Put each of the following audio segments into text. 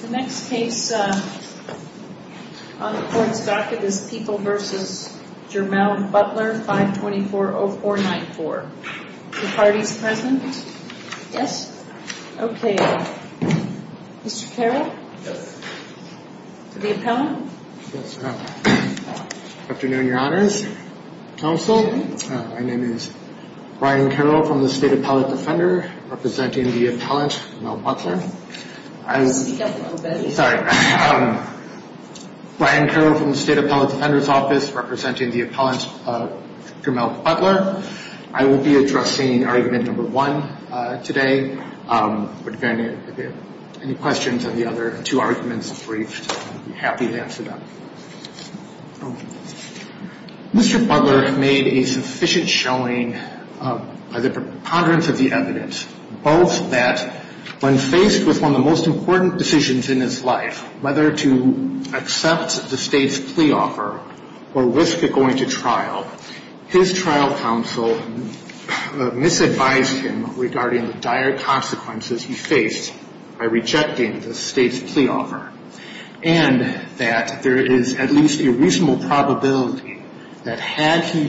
The next case on the court's docket is People v. Jermell Butler, 524-0494. Are the parties present? Yes? Okay. Mr. Carroll? Yes. To the appellant. Yes. Afternoon, Your Honors. Counsel. My name is Brian Carroll from the State Appellate Defender, representing the appellant, Jermell Butler. Speak up a little bit. Sorry. Brian Carroll from the State Appellate Defender's Office, representing the appellant, Jermell Butler. I will be addressing argument number one today. If you have any questions on the other two arguments, I'll be happy to answer them. Mr. Butler made a sufficient showing by the preponderance of the evidence, both that when faced with one of the most important decisions in his life, whether to accept the State's plea offer or risk it going to trial, his trial counsel misadvised him regarding the dire consequences he faced by rejecting the State's plea offer, and that there is at least a reasonable probability that had he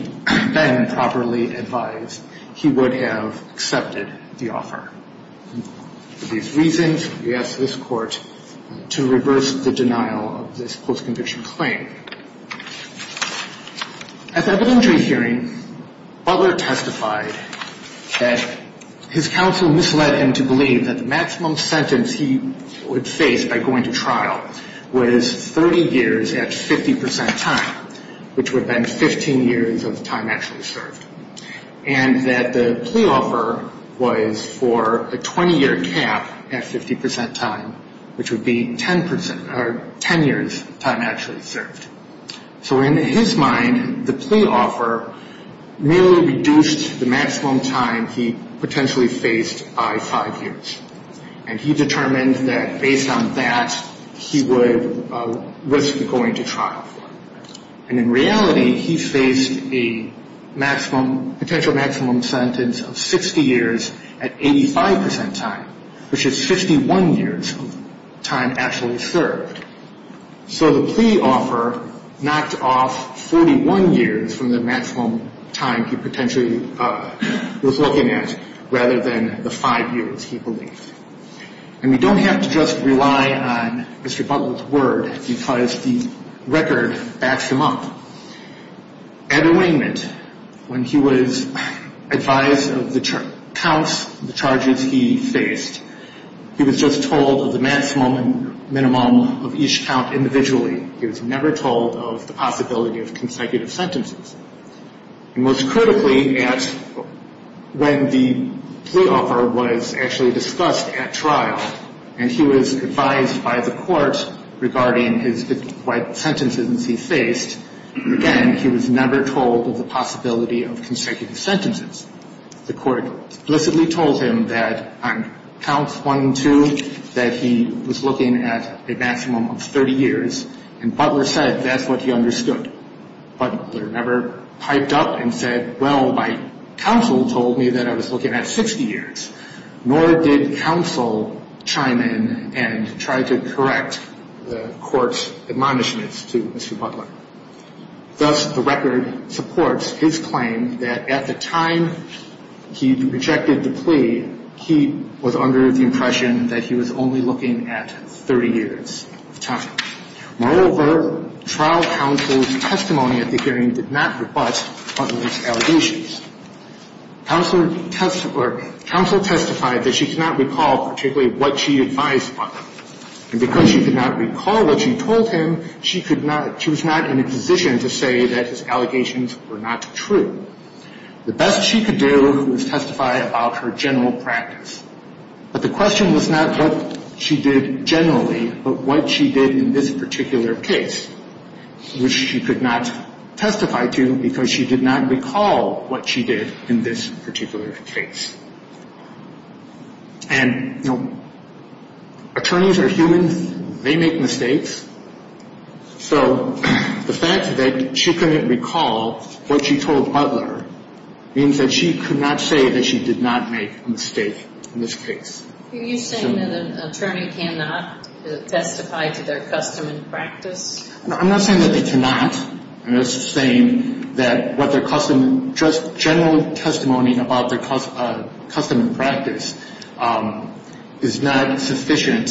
been properly advised, he would have accepted the offer. For these reasons, we ask this Court to reverse the denial of this post-conviction claim. At the evidentiary hearing, Butler testified that his counsel misled him to believe that the maximum sentence he would face by going to trial was 30 years at 50 percent time, which would have been 15 years of time actually served. And that the plea offer was for a 20-year cap at 50 percent time, which would be 10 years of time actually served. So in his mind, the plea offer merely reduced the maximum time he potentially faced by five years. And he determined that based on that, he would risk going to trial. And in reality, he faced a maximum, potential maximum sentence of 60 years at 85 percent time, which is 51 years of time actually served. So the plea offer knocked off 41 years from the maximum time he potentially was looking at, rather than the five years he believed. And we don't have to just rely on Mr. Butler's word because the record backs him up. At awaitment, when he was advised of the counts, the charges he faced, he was just told of the maximum and minimum of each count individually. He was never told of the possibility of consecutive sentences. And most critically, when the plea offer was actually discussed at trial, and he was advised by the court regarding his 50 sentences he faced, again, he was never told of the possibility of consecutive sentences. The court explicitly told him that on counts one and two, that he was looking at a maximum of 30 years. And Butler said that's what he understood. But Butler never piped up and said, well, my counsel told me that I was looking at 60 years. Nor did counsel chime in and try to correct the court's admonishments to Mr. Butler. Thus, the record supports his claim that at the time he rejected the plea, he was under the impression that he was only looking at 30 years of time. Moreover, trial counsel's testimony at the hearing did not rebut Butler's allegations. Counsel testified that she could not recall particularly what she advised Butler. And because she could not recall what she told him, she was not in a position to say that his allegations were not true. The best she could do was testify about her general practice. But the question was not what she did generally, but what she did in this particular case, which she could not testify to because she did not recall what she did in this particular case. And, you know, attorneys are humans. They make mistakes. So the fact that she couldn't recall what she told Butler means that she could not say that she did not make a mistake in this case. Are you saying that an attorney cannot testify to their custom and practice? No, I'm not saying that they cannot. I'm just saying that what their custom, just general testimony about their custom and practice, is not sufficient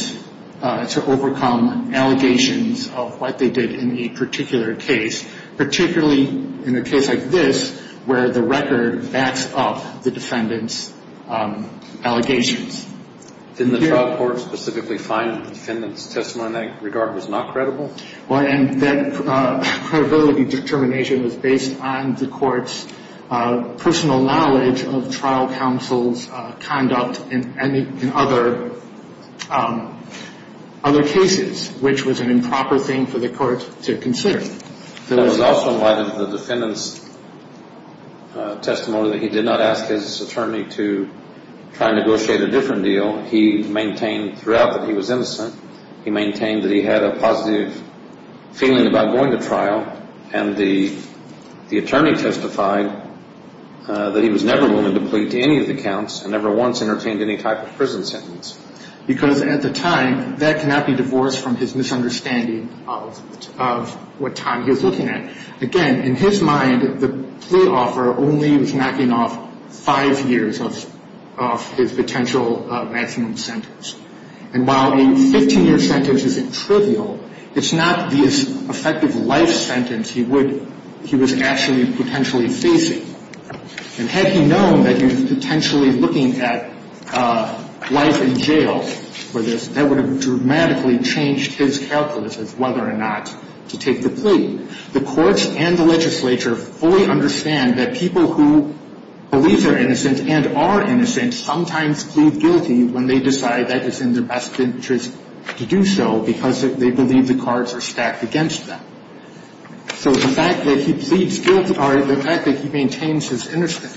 to overcome allegations of what they did in a particular case, particularly in a case like this where the record backs up the defendant's allegations. Didn't the trial court specifically find the defendant's testimony in that regard was not credible? Well, and that credibility determination was based on the court's personal knowledge of trial counsel's conduct in other cases, which was an improper thing for the court to consider. It was also in light of the defendant's testimony that he did not ask his attorney to try and negotiate a different deal. He maintained throughout that he was innocent. He maintained that he had a positive feeling about going to trial, and the attorney testified that he was never willing to plead to any of the counts and never once entertained any type of prison sentence. Because at the time, that cannot be divorced from his misunderstanding of what time he was looking at. Again, in his mind, the plea offer only was knocking off five years of his potential maximum sentence. And while a 15-year sentence isn't trivial, it's not the effective life sentence he was actually potentially facing. And had he known that he was potentially looking at life in jail for this, that would have dramatically changed his calculus as to whether or not to take the plea. The courts and the legislature fully understand that people who believe they're innocent and are innocent sometimes plead guilty when they decide that it's in their best interest to do so because they believe the cards are stacked against them. So the fact that he pleads guilty, or the fact that he maintains his innocence,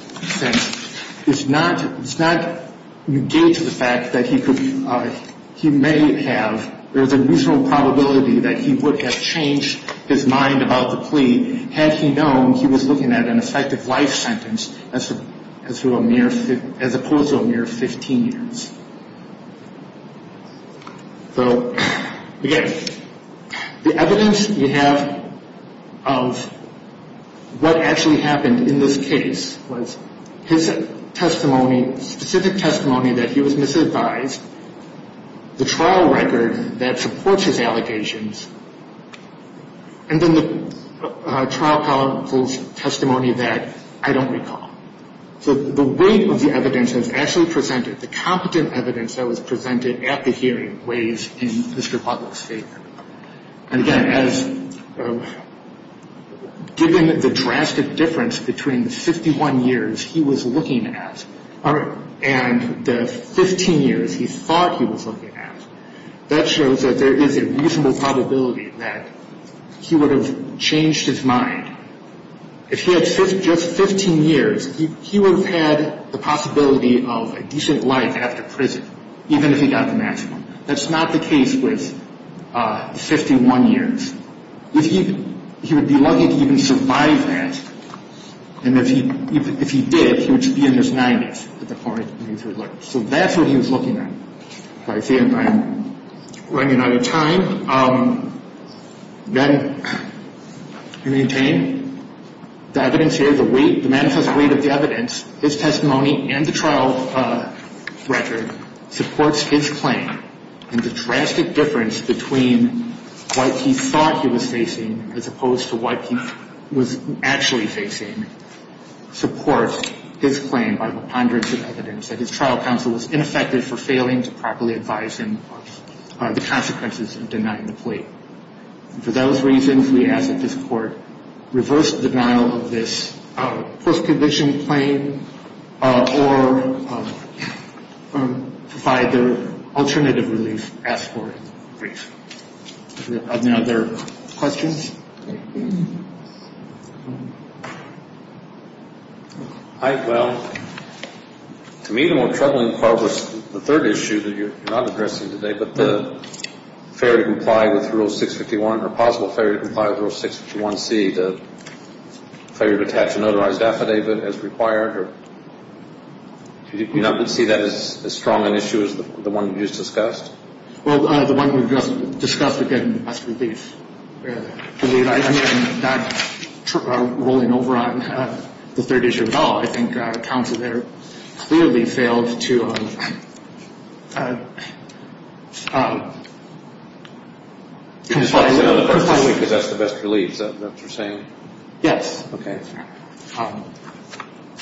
does not negate the fact that he may have, there's a reasonable probability that he would have changed his mind about the plea had he known he was looking at an effective life sentence as opposed to a mere 15 years. So, again, the evidence we have of what actually happened in this case was his testimony, specific testimony that he was misadvised, the trial record that supports his allegations, and then the trial counsel's testimony that I don't recall. So the weight of the evidence that's actually presented, the competent evidence that was presented at the hearing weighs in Mr. Butler's favor. And, again, given the drastic difference between the 51 years he was looking at and the 15 years he thought he was looking at, that shows that there is a reasonable probability that he would have changed his mind. If he had just 15 years, he would have had the possibility of a decent life after prison, even if he got the maximum. That's not the case with 51 years. He would be lucky to even survive that. And if he did, he would be in his 90s at the point in which he was looking. So that's what he was looking at. I see I'm running out of time. Then we maintain the evidence here, the weight, the manifest weight of the evidence, his testimony, and the trial record supports his claim. And the drastic difference between what he thought he was facing as opposed to what he was actually facing supports his claim by the ponderance of evidence that his trial counsel was ineffective for failing to properly advise him of the consequences of denying the plea. For those reasons, we ask that this Court reverse the denial of this post-condition claim or provide the alternative relief asked for in the brief. Are there any other questions? Hi. Well, to me, the more troubling part was the third issue that you're not addressing today, but the failure to comply with Rule 651 or possible failure to comply with Rule 651C, the failure to attach a notarized affidavit as required. Do you not see that as strong an issue as the one you just discussed? Well, the one we just discussed, again, must be the biggest barrier. I mean, rolling over on the third issue as well, I think counsel there clearly failed to comply with the process. Because that's the best relief that you're saying? Yes. Okay.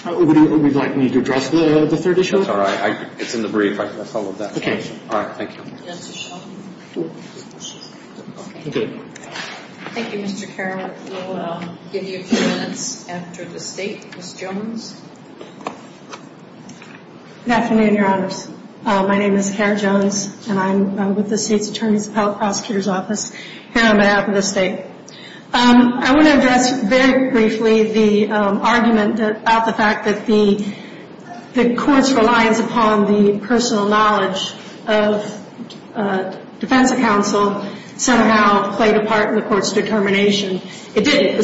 Would you like me to address the third issue? That's all right. It's in the brief. I followed that. Okay. All right. Thank you. Thank you, Mr. Carroll. We'll give you a few minutes after the State. Ms. Jones? Good afternoon, Your Honors. My name is Kara Jones, and I'm with the State's Attorney's and Health Prosecutor's Office here on behalf of the State. I want to address very briefly the argument about the fact that the Court's reliance upon the personal knowledge of defense counsel somehow played a part in the Court's determination. It did.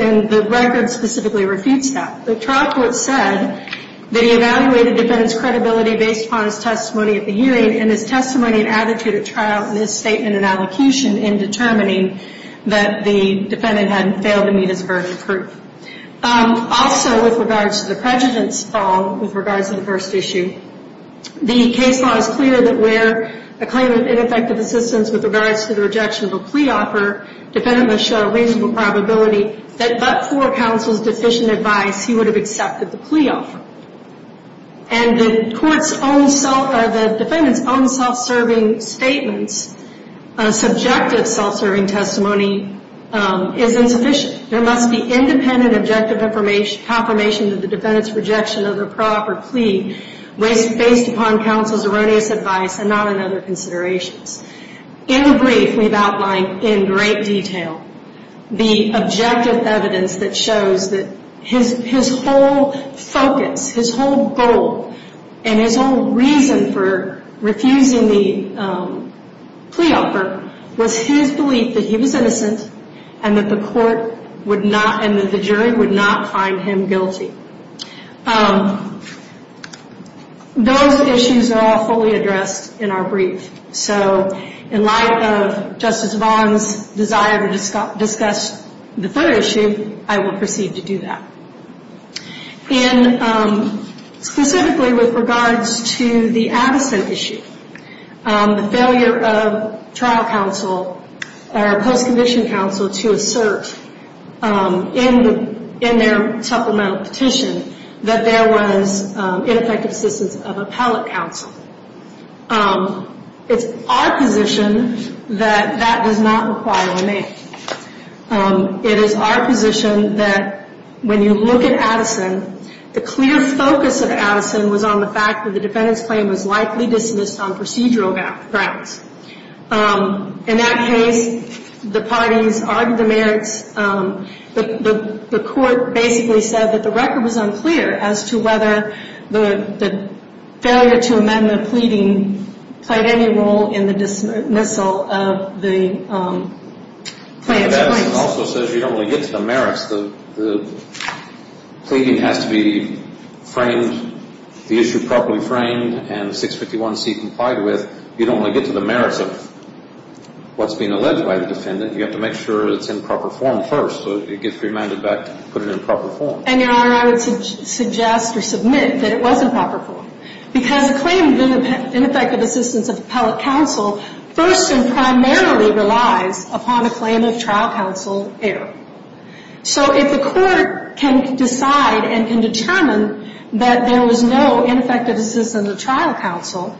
And the record specifically refutes that. The trial court said that he evaluated the defendant's credibility based upon his testimony at the hearing and his testimony and attitude at trial in his statement and allocation in determining that the defendant had failed to meet his verdict of proof. Also, with regards to the prejudice fall, with regards to the first issue, the case law is clear that where a claim of ineffective assistance with regards to the rejection of a plea offer, the defendant must show a reasonable probability that but for counsel's deficient advice, he would have accepted the plea offer. And the defendant's own self-serving statements, subjective self-serving testimony, is insufficient. There must be independent objective confirmation that the defendant's rejection of the proper plea was based upon counsel's erroneous advice and not on other considerations. In the brief we've outlined in great detail the objective evidence that shows that his whole focus, his whole goal, and his whole reason for refusing the plea offer was his belief that he was innocent and that the court would not and that the jury would not find him guilty. Those issues are all fully addressed in our brief. So in light of Justice Vaughn's desire to discuss the third issue, I will proceed to do that. And specifically with regards to the Addison issue, the failure of trial counsel or post-conviction counsel to assert in their supplemental petition that there was ineffective assistance of appellate counsel. It's our position that that does not require a name. It is our position that when you look at Addison, the clear focus of Addison was on the fact that the defendant's claim was likely dismissed on procedural grounds. In that case, the parties argued the merits. The court basically said that the record was unclear as to whether the failure to amend the pleading played any role in the dismissal of the plaintiff's claims. But Addison also says you don't really get to the merits. The pleading has to be framed, the issue properly framed, and 651C complied with. You don't really get to the merits of what's being alleged by the defendant. You have to make sure it's in proper form first so it gets remanded back to put it in proper form. And, Your Honor, I would suggest or submit that it was in proper form because the claim of ineffective assistance of appellate counsel first and primarily relies upon a claim of trial counsel error. So if the court can decide and can determine that there was no ineffective assistance of trial counsel,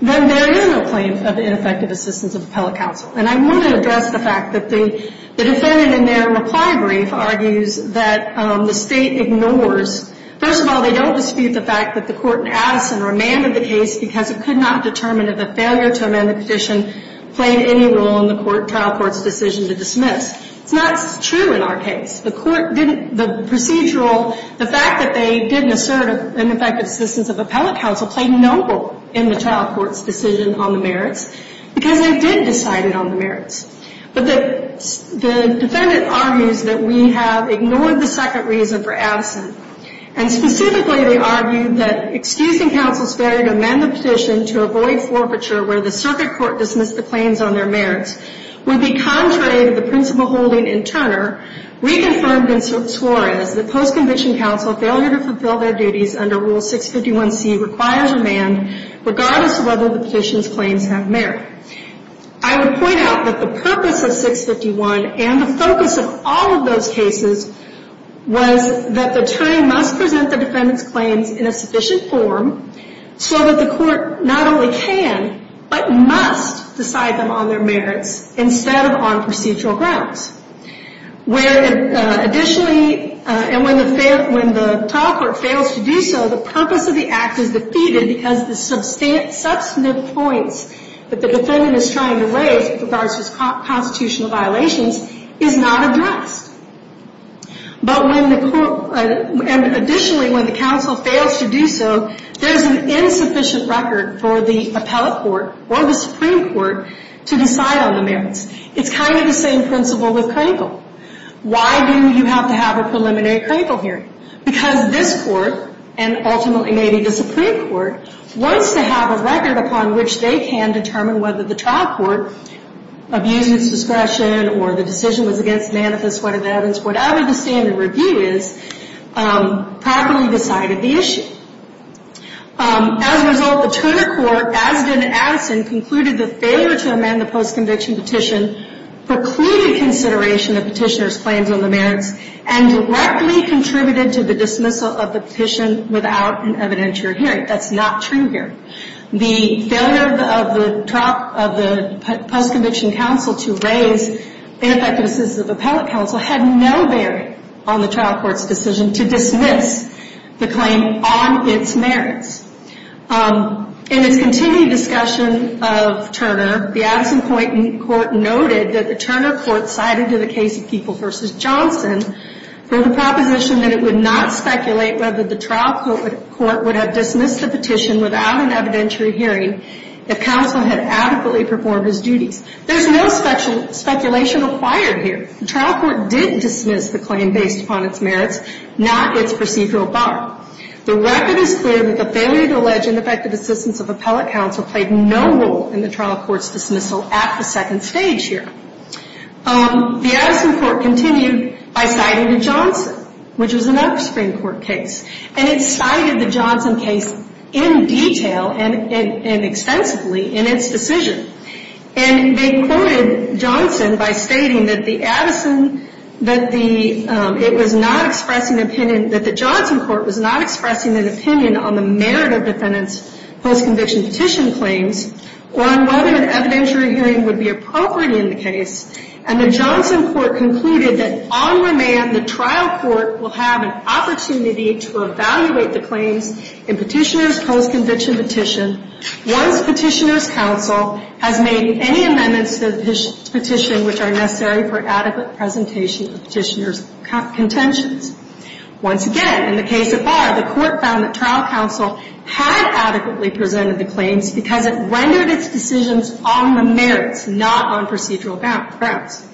then there is no claim of ineffective assistance of appellate counsel. And I want to address the fact that the defendant in their reply brief argues that the State ignores First of all, they don't dispute the fact that the court in Addison remanded the case because it could not determine if a failure to amend the petition played any role in the trial court's decision to dismiss. It's not true in our case. The procedural, the fact that they didn't assert ineffective assistance of appellate counsel played no role in the trial court's decision on the merits because they did decide it on the merits. But the defendant argues that we have ignored the second reason for Addison. And specifically, they argue that excusing counsel's failure to amend the petition to avoid forfeiture where the circuit court dismissed the claims on their merits would be contrary to the principle holding in Turner, reconfirmed in Suarez, that post-conviction counsel failure to fulfill their duties under Rule 651C requires remand regardless of whether the petition's claims have merit. I would point out that the purpose of 651 and the focus of all of those cases was that the attorney must present the defendant's claims in a sufficient form so that the court not only can but must decide them on their merits instead of on procedural grounds. Where additionally, and when the trial court fails to do so, the purpose of the act is defeated because the substantive points that the defendant is trying to raise with regards to his constitutional violations is not addressed. But when the court, and additionally, when the counsel fails to do so, there's an insufficient record for the appellate court or the Supreme Court to decide on the merits. It's kind of the same principle with Crankle. Why do you have to have a preliminary Crankle hearing? Because this court, and ultimately maybe the Supreme Court, wants to have a record upon which they can determine whether the trial court, abuse of its discretion or the decision was against manifest whatever the evidence, whatever the standard review is, properly decided the issue. As a result, the Tudor court, as did Addison, concluded that failure to amend the post-conviction petition precluded consideration of petitioner's claims on the merits and directly contributed to the dismissal of the petition without an evidentiary hearing. That's not true here. The failure of the post-conviction counsel to raise ineffective assistance of appellate counsel had no bearing on the trial court's decision to dismiss the claim on its merits. In its continued discussion of Turner, the Addison-Poynton court noted that the Turner court decided to the case of Keeple v. Johnson for the proposition that it would not speculate whether the trial court would have dismissed the petition without an evidentiary hearing if counsel had adequately performed his duties. There's no speculation acquired here. The trial court did dismiss the claim based upon its merits, not its procedural bar. The record is clear that the failure to allege ineffective assistance of appellate counsel played no role in the trial court's dismissal at the second stage here. The Addison court continued by citing the Johnson, which was another Supreme Court case. And it cited the Johnson case in detail and extensively in its decision. And they quoted Johnson by stating that the Addison, that it was not expressing an opinion, that the Johnson court was not expressing an opinion on the merit of defendant's post-conviction petition claims or on whether an evidentiary hearing would be appropriate in the case. And the Johnson court concluded that on remand, the trial court will have an opportunity to evaluate the claims in Petitioner's post-conviction petition once Petitioner's counsel has made any amendments to the petition which are necessary for adequate presentation of Petitioner's contentions. Once again, in the case of Barr, the court found that trial counsel had adequately presented the claims because it rendered its decisions on the merits, not on procedural grounds.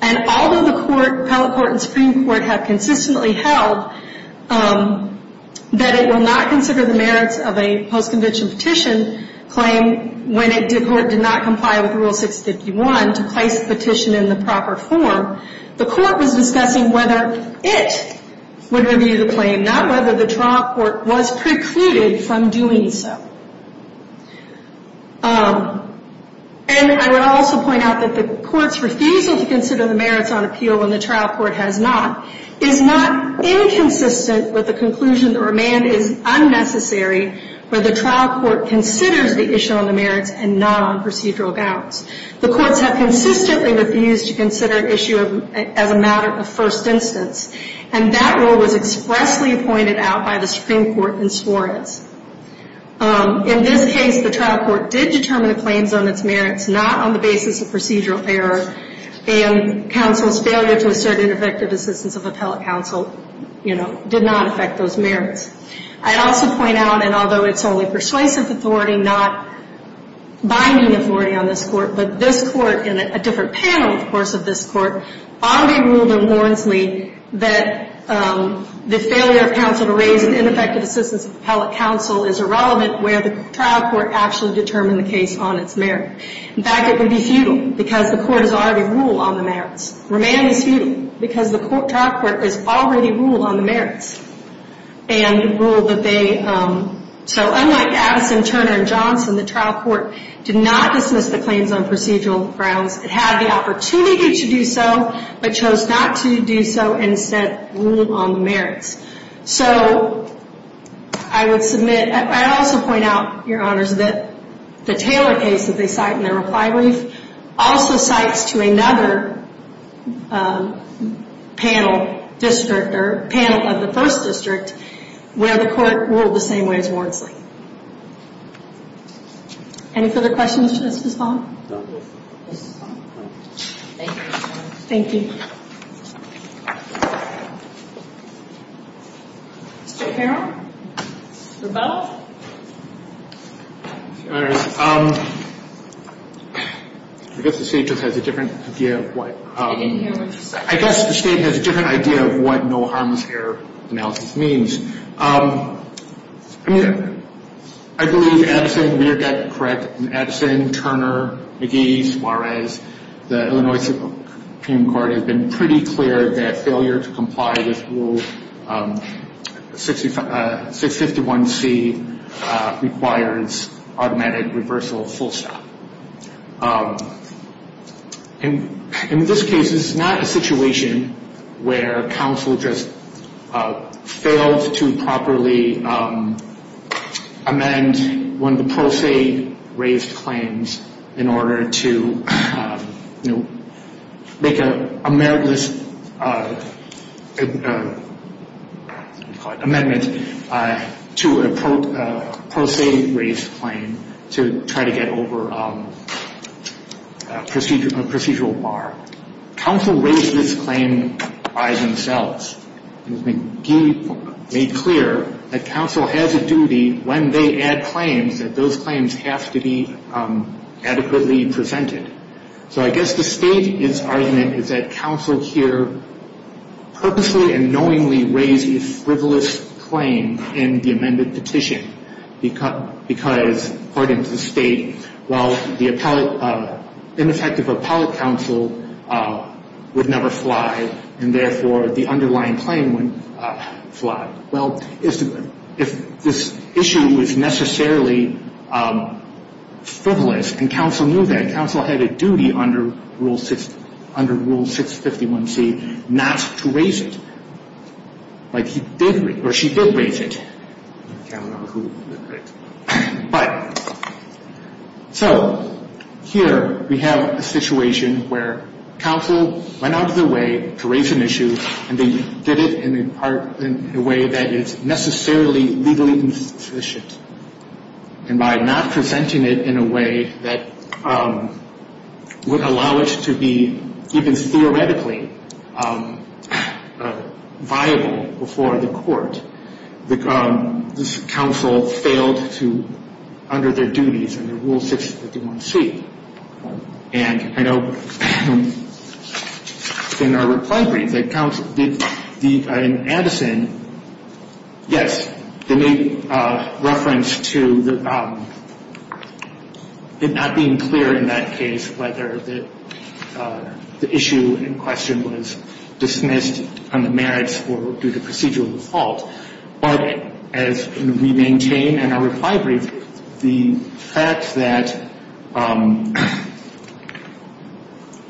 And although the court, appellate court and Supreme Court, have consistently held that it will not consider the merits of a post-conviction petition claim when it did not comply with Rule 651 to place the petition in the proper form, the court was discussing whether it would review the claim, not whether the trial court was precluded from doing so. And I would also point out that the court's refusal to consider the merits on appeal when the trial court has not is not inconsistent with the conclusion that remand is unnecessary where the trial court considers the issue on the merits and not on procedural grounds. The courts have consistently refused to consider an issue as a matter of first instance. And that rule was expressly pointed out by the Supreme Court in Suarez. In this case, the trial court did determine the claims on its merits, not on the basis of procedural error, and counsel's failure to assert an effective assistance of appellate counsel, you know, did not affect those merits. I'd also point out, and although it's only persuasive authority, not binding authority on this court, but this court, and a different panel, of course, of this court, already ruled in Warrensley that the failure of counsel to raise an ineffective assistance of appellate counsel is irrelevant where the trial court actually determined the case on its merits. In fact, it would be futile because the court has already ruled on the merits. Remand is futile because the trial court has already ruled on the merits and ruled that they, so unlike Addison, Turner, and Johnson, the trial court did not dismiss the claims on procedural grounds. It had the opportunity to do so, but chose not to do so and said, rule on the merits. So, I would submit, I'd also point out, Your Honors, that the Taylor case that they cite in their reply brief also cites to another panel district, or panel of the first district, where the court ruled the same way as Warrensley. Any further questions, Justice Fong? Thank you, Your Honors. Thank you. Mr. Carroll? Mr. Bell? Your Honors, I guess the state just has a different idea of what... I didn't hear what you said. I guess the state has a different idea of what no harms here analysis means. I mean, I believe Addison Weir got it correct Addison, Turner, McGee, Suarez, the Illinois Supreme Court has been pretty clear that failure to comply with Rule 651C requires automatic reversal, full stop. In this case, it's not a situation where counsel just failed to properly amend one of the pro se raised claims in order to make a meritless amendment to a pro se raised claim to try to get over a procedural bar. Counsel raised this claim by themselves. McGee made clear that counsel has a duty when they add claims, that those claims have to be adequately presented. So I guess the state's argument is that counsel here purposely and knowingly raised a frivolous claim in the amended petition because, according to the state, while the ineffective appellate counsel would never fly and therefore the underlying claim would fly. Well, if this issue is necessarily frivolous and counsel knew that, counsel had a duty under Rule 651C not to raise it. Like he did, or she did raise it. I don't know who did it. But, so, here we have a situation where counsel went out of their way to raise an issue and they did it in a way that is necessarily legally insufficient. And by not presenting it in a way that would allow it to be even theoretically viable before the court, this counsel failed to, under their duties under Rule 651C. And I know in our reply brief that counsel did, in Anderson, yes, they made reference to it not being clear in that case whether the issue in question was dismissed on the merits or due to procedural default. But as we maintain in our reply brief, the fact that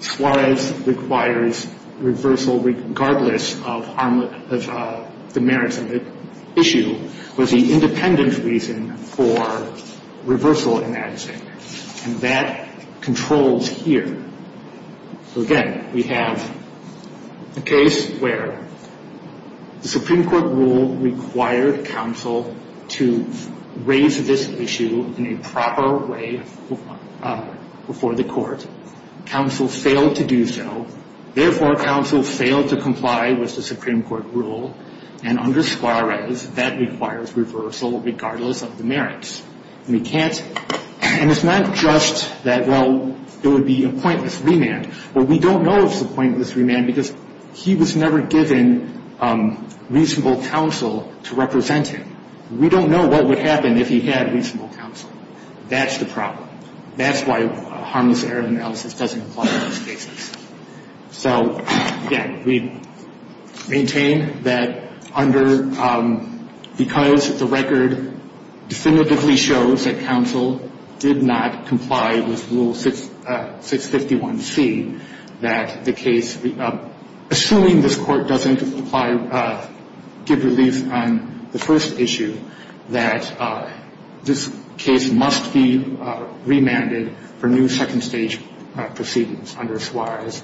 Suarez requires reversal regardless of the merits of the issue was the independent reason for reversal in that case. And that controls here. So, again, we have a case where the Supreme Court rule required counsel to raise this issue in a proper way before the court. Counsel failed to do so. Therefore, counsel failed to comply with the Supreme Court rule. And under Suarez, that requires reversal regardless of the merits. And we can't, and it's not just that, well, it would be a pointless remand. Well, we don't know if it's a pointless remand because he was never given reasonable counsel to represent him. We don't know what would happen if he had reasonable counsel. That's the problem. That's why a harmless error analysis doesn't apply in those cases. So, again, we maintain that under, because the record definitively shows that counsel did not comply with Rule 651C, that the case, assuming this Court doesn't apply, give relief on the first issue, that this case must be remanded for new second stage proceedings under Suarez,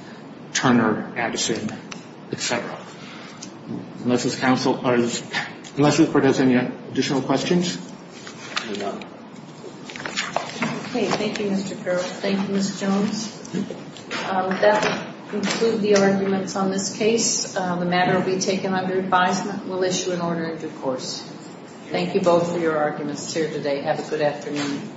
Turner, Addison, et cetera. Unless this Court has any additional questions? MS. JONES. Okay. Thank you, Mr. Carroll. Thank you, Ms. Jones. That will conclude the arguments on this case. The matter will be taken under advisement. We'll issue an order in due course. Thank you both for your arguments here today. Have a good afternoon.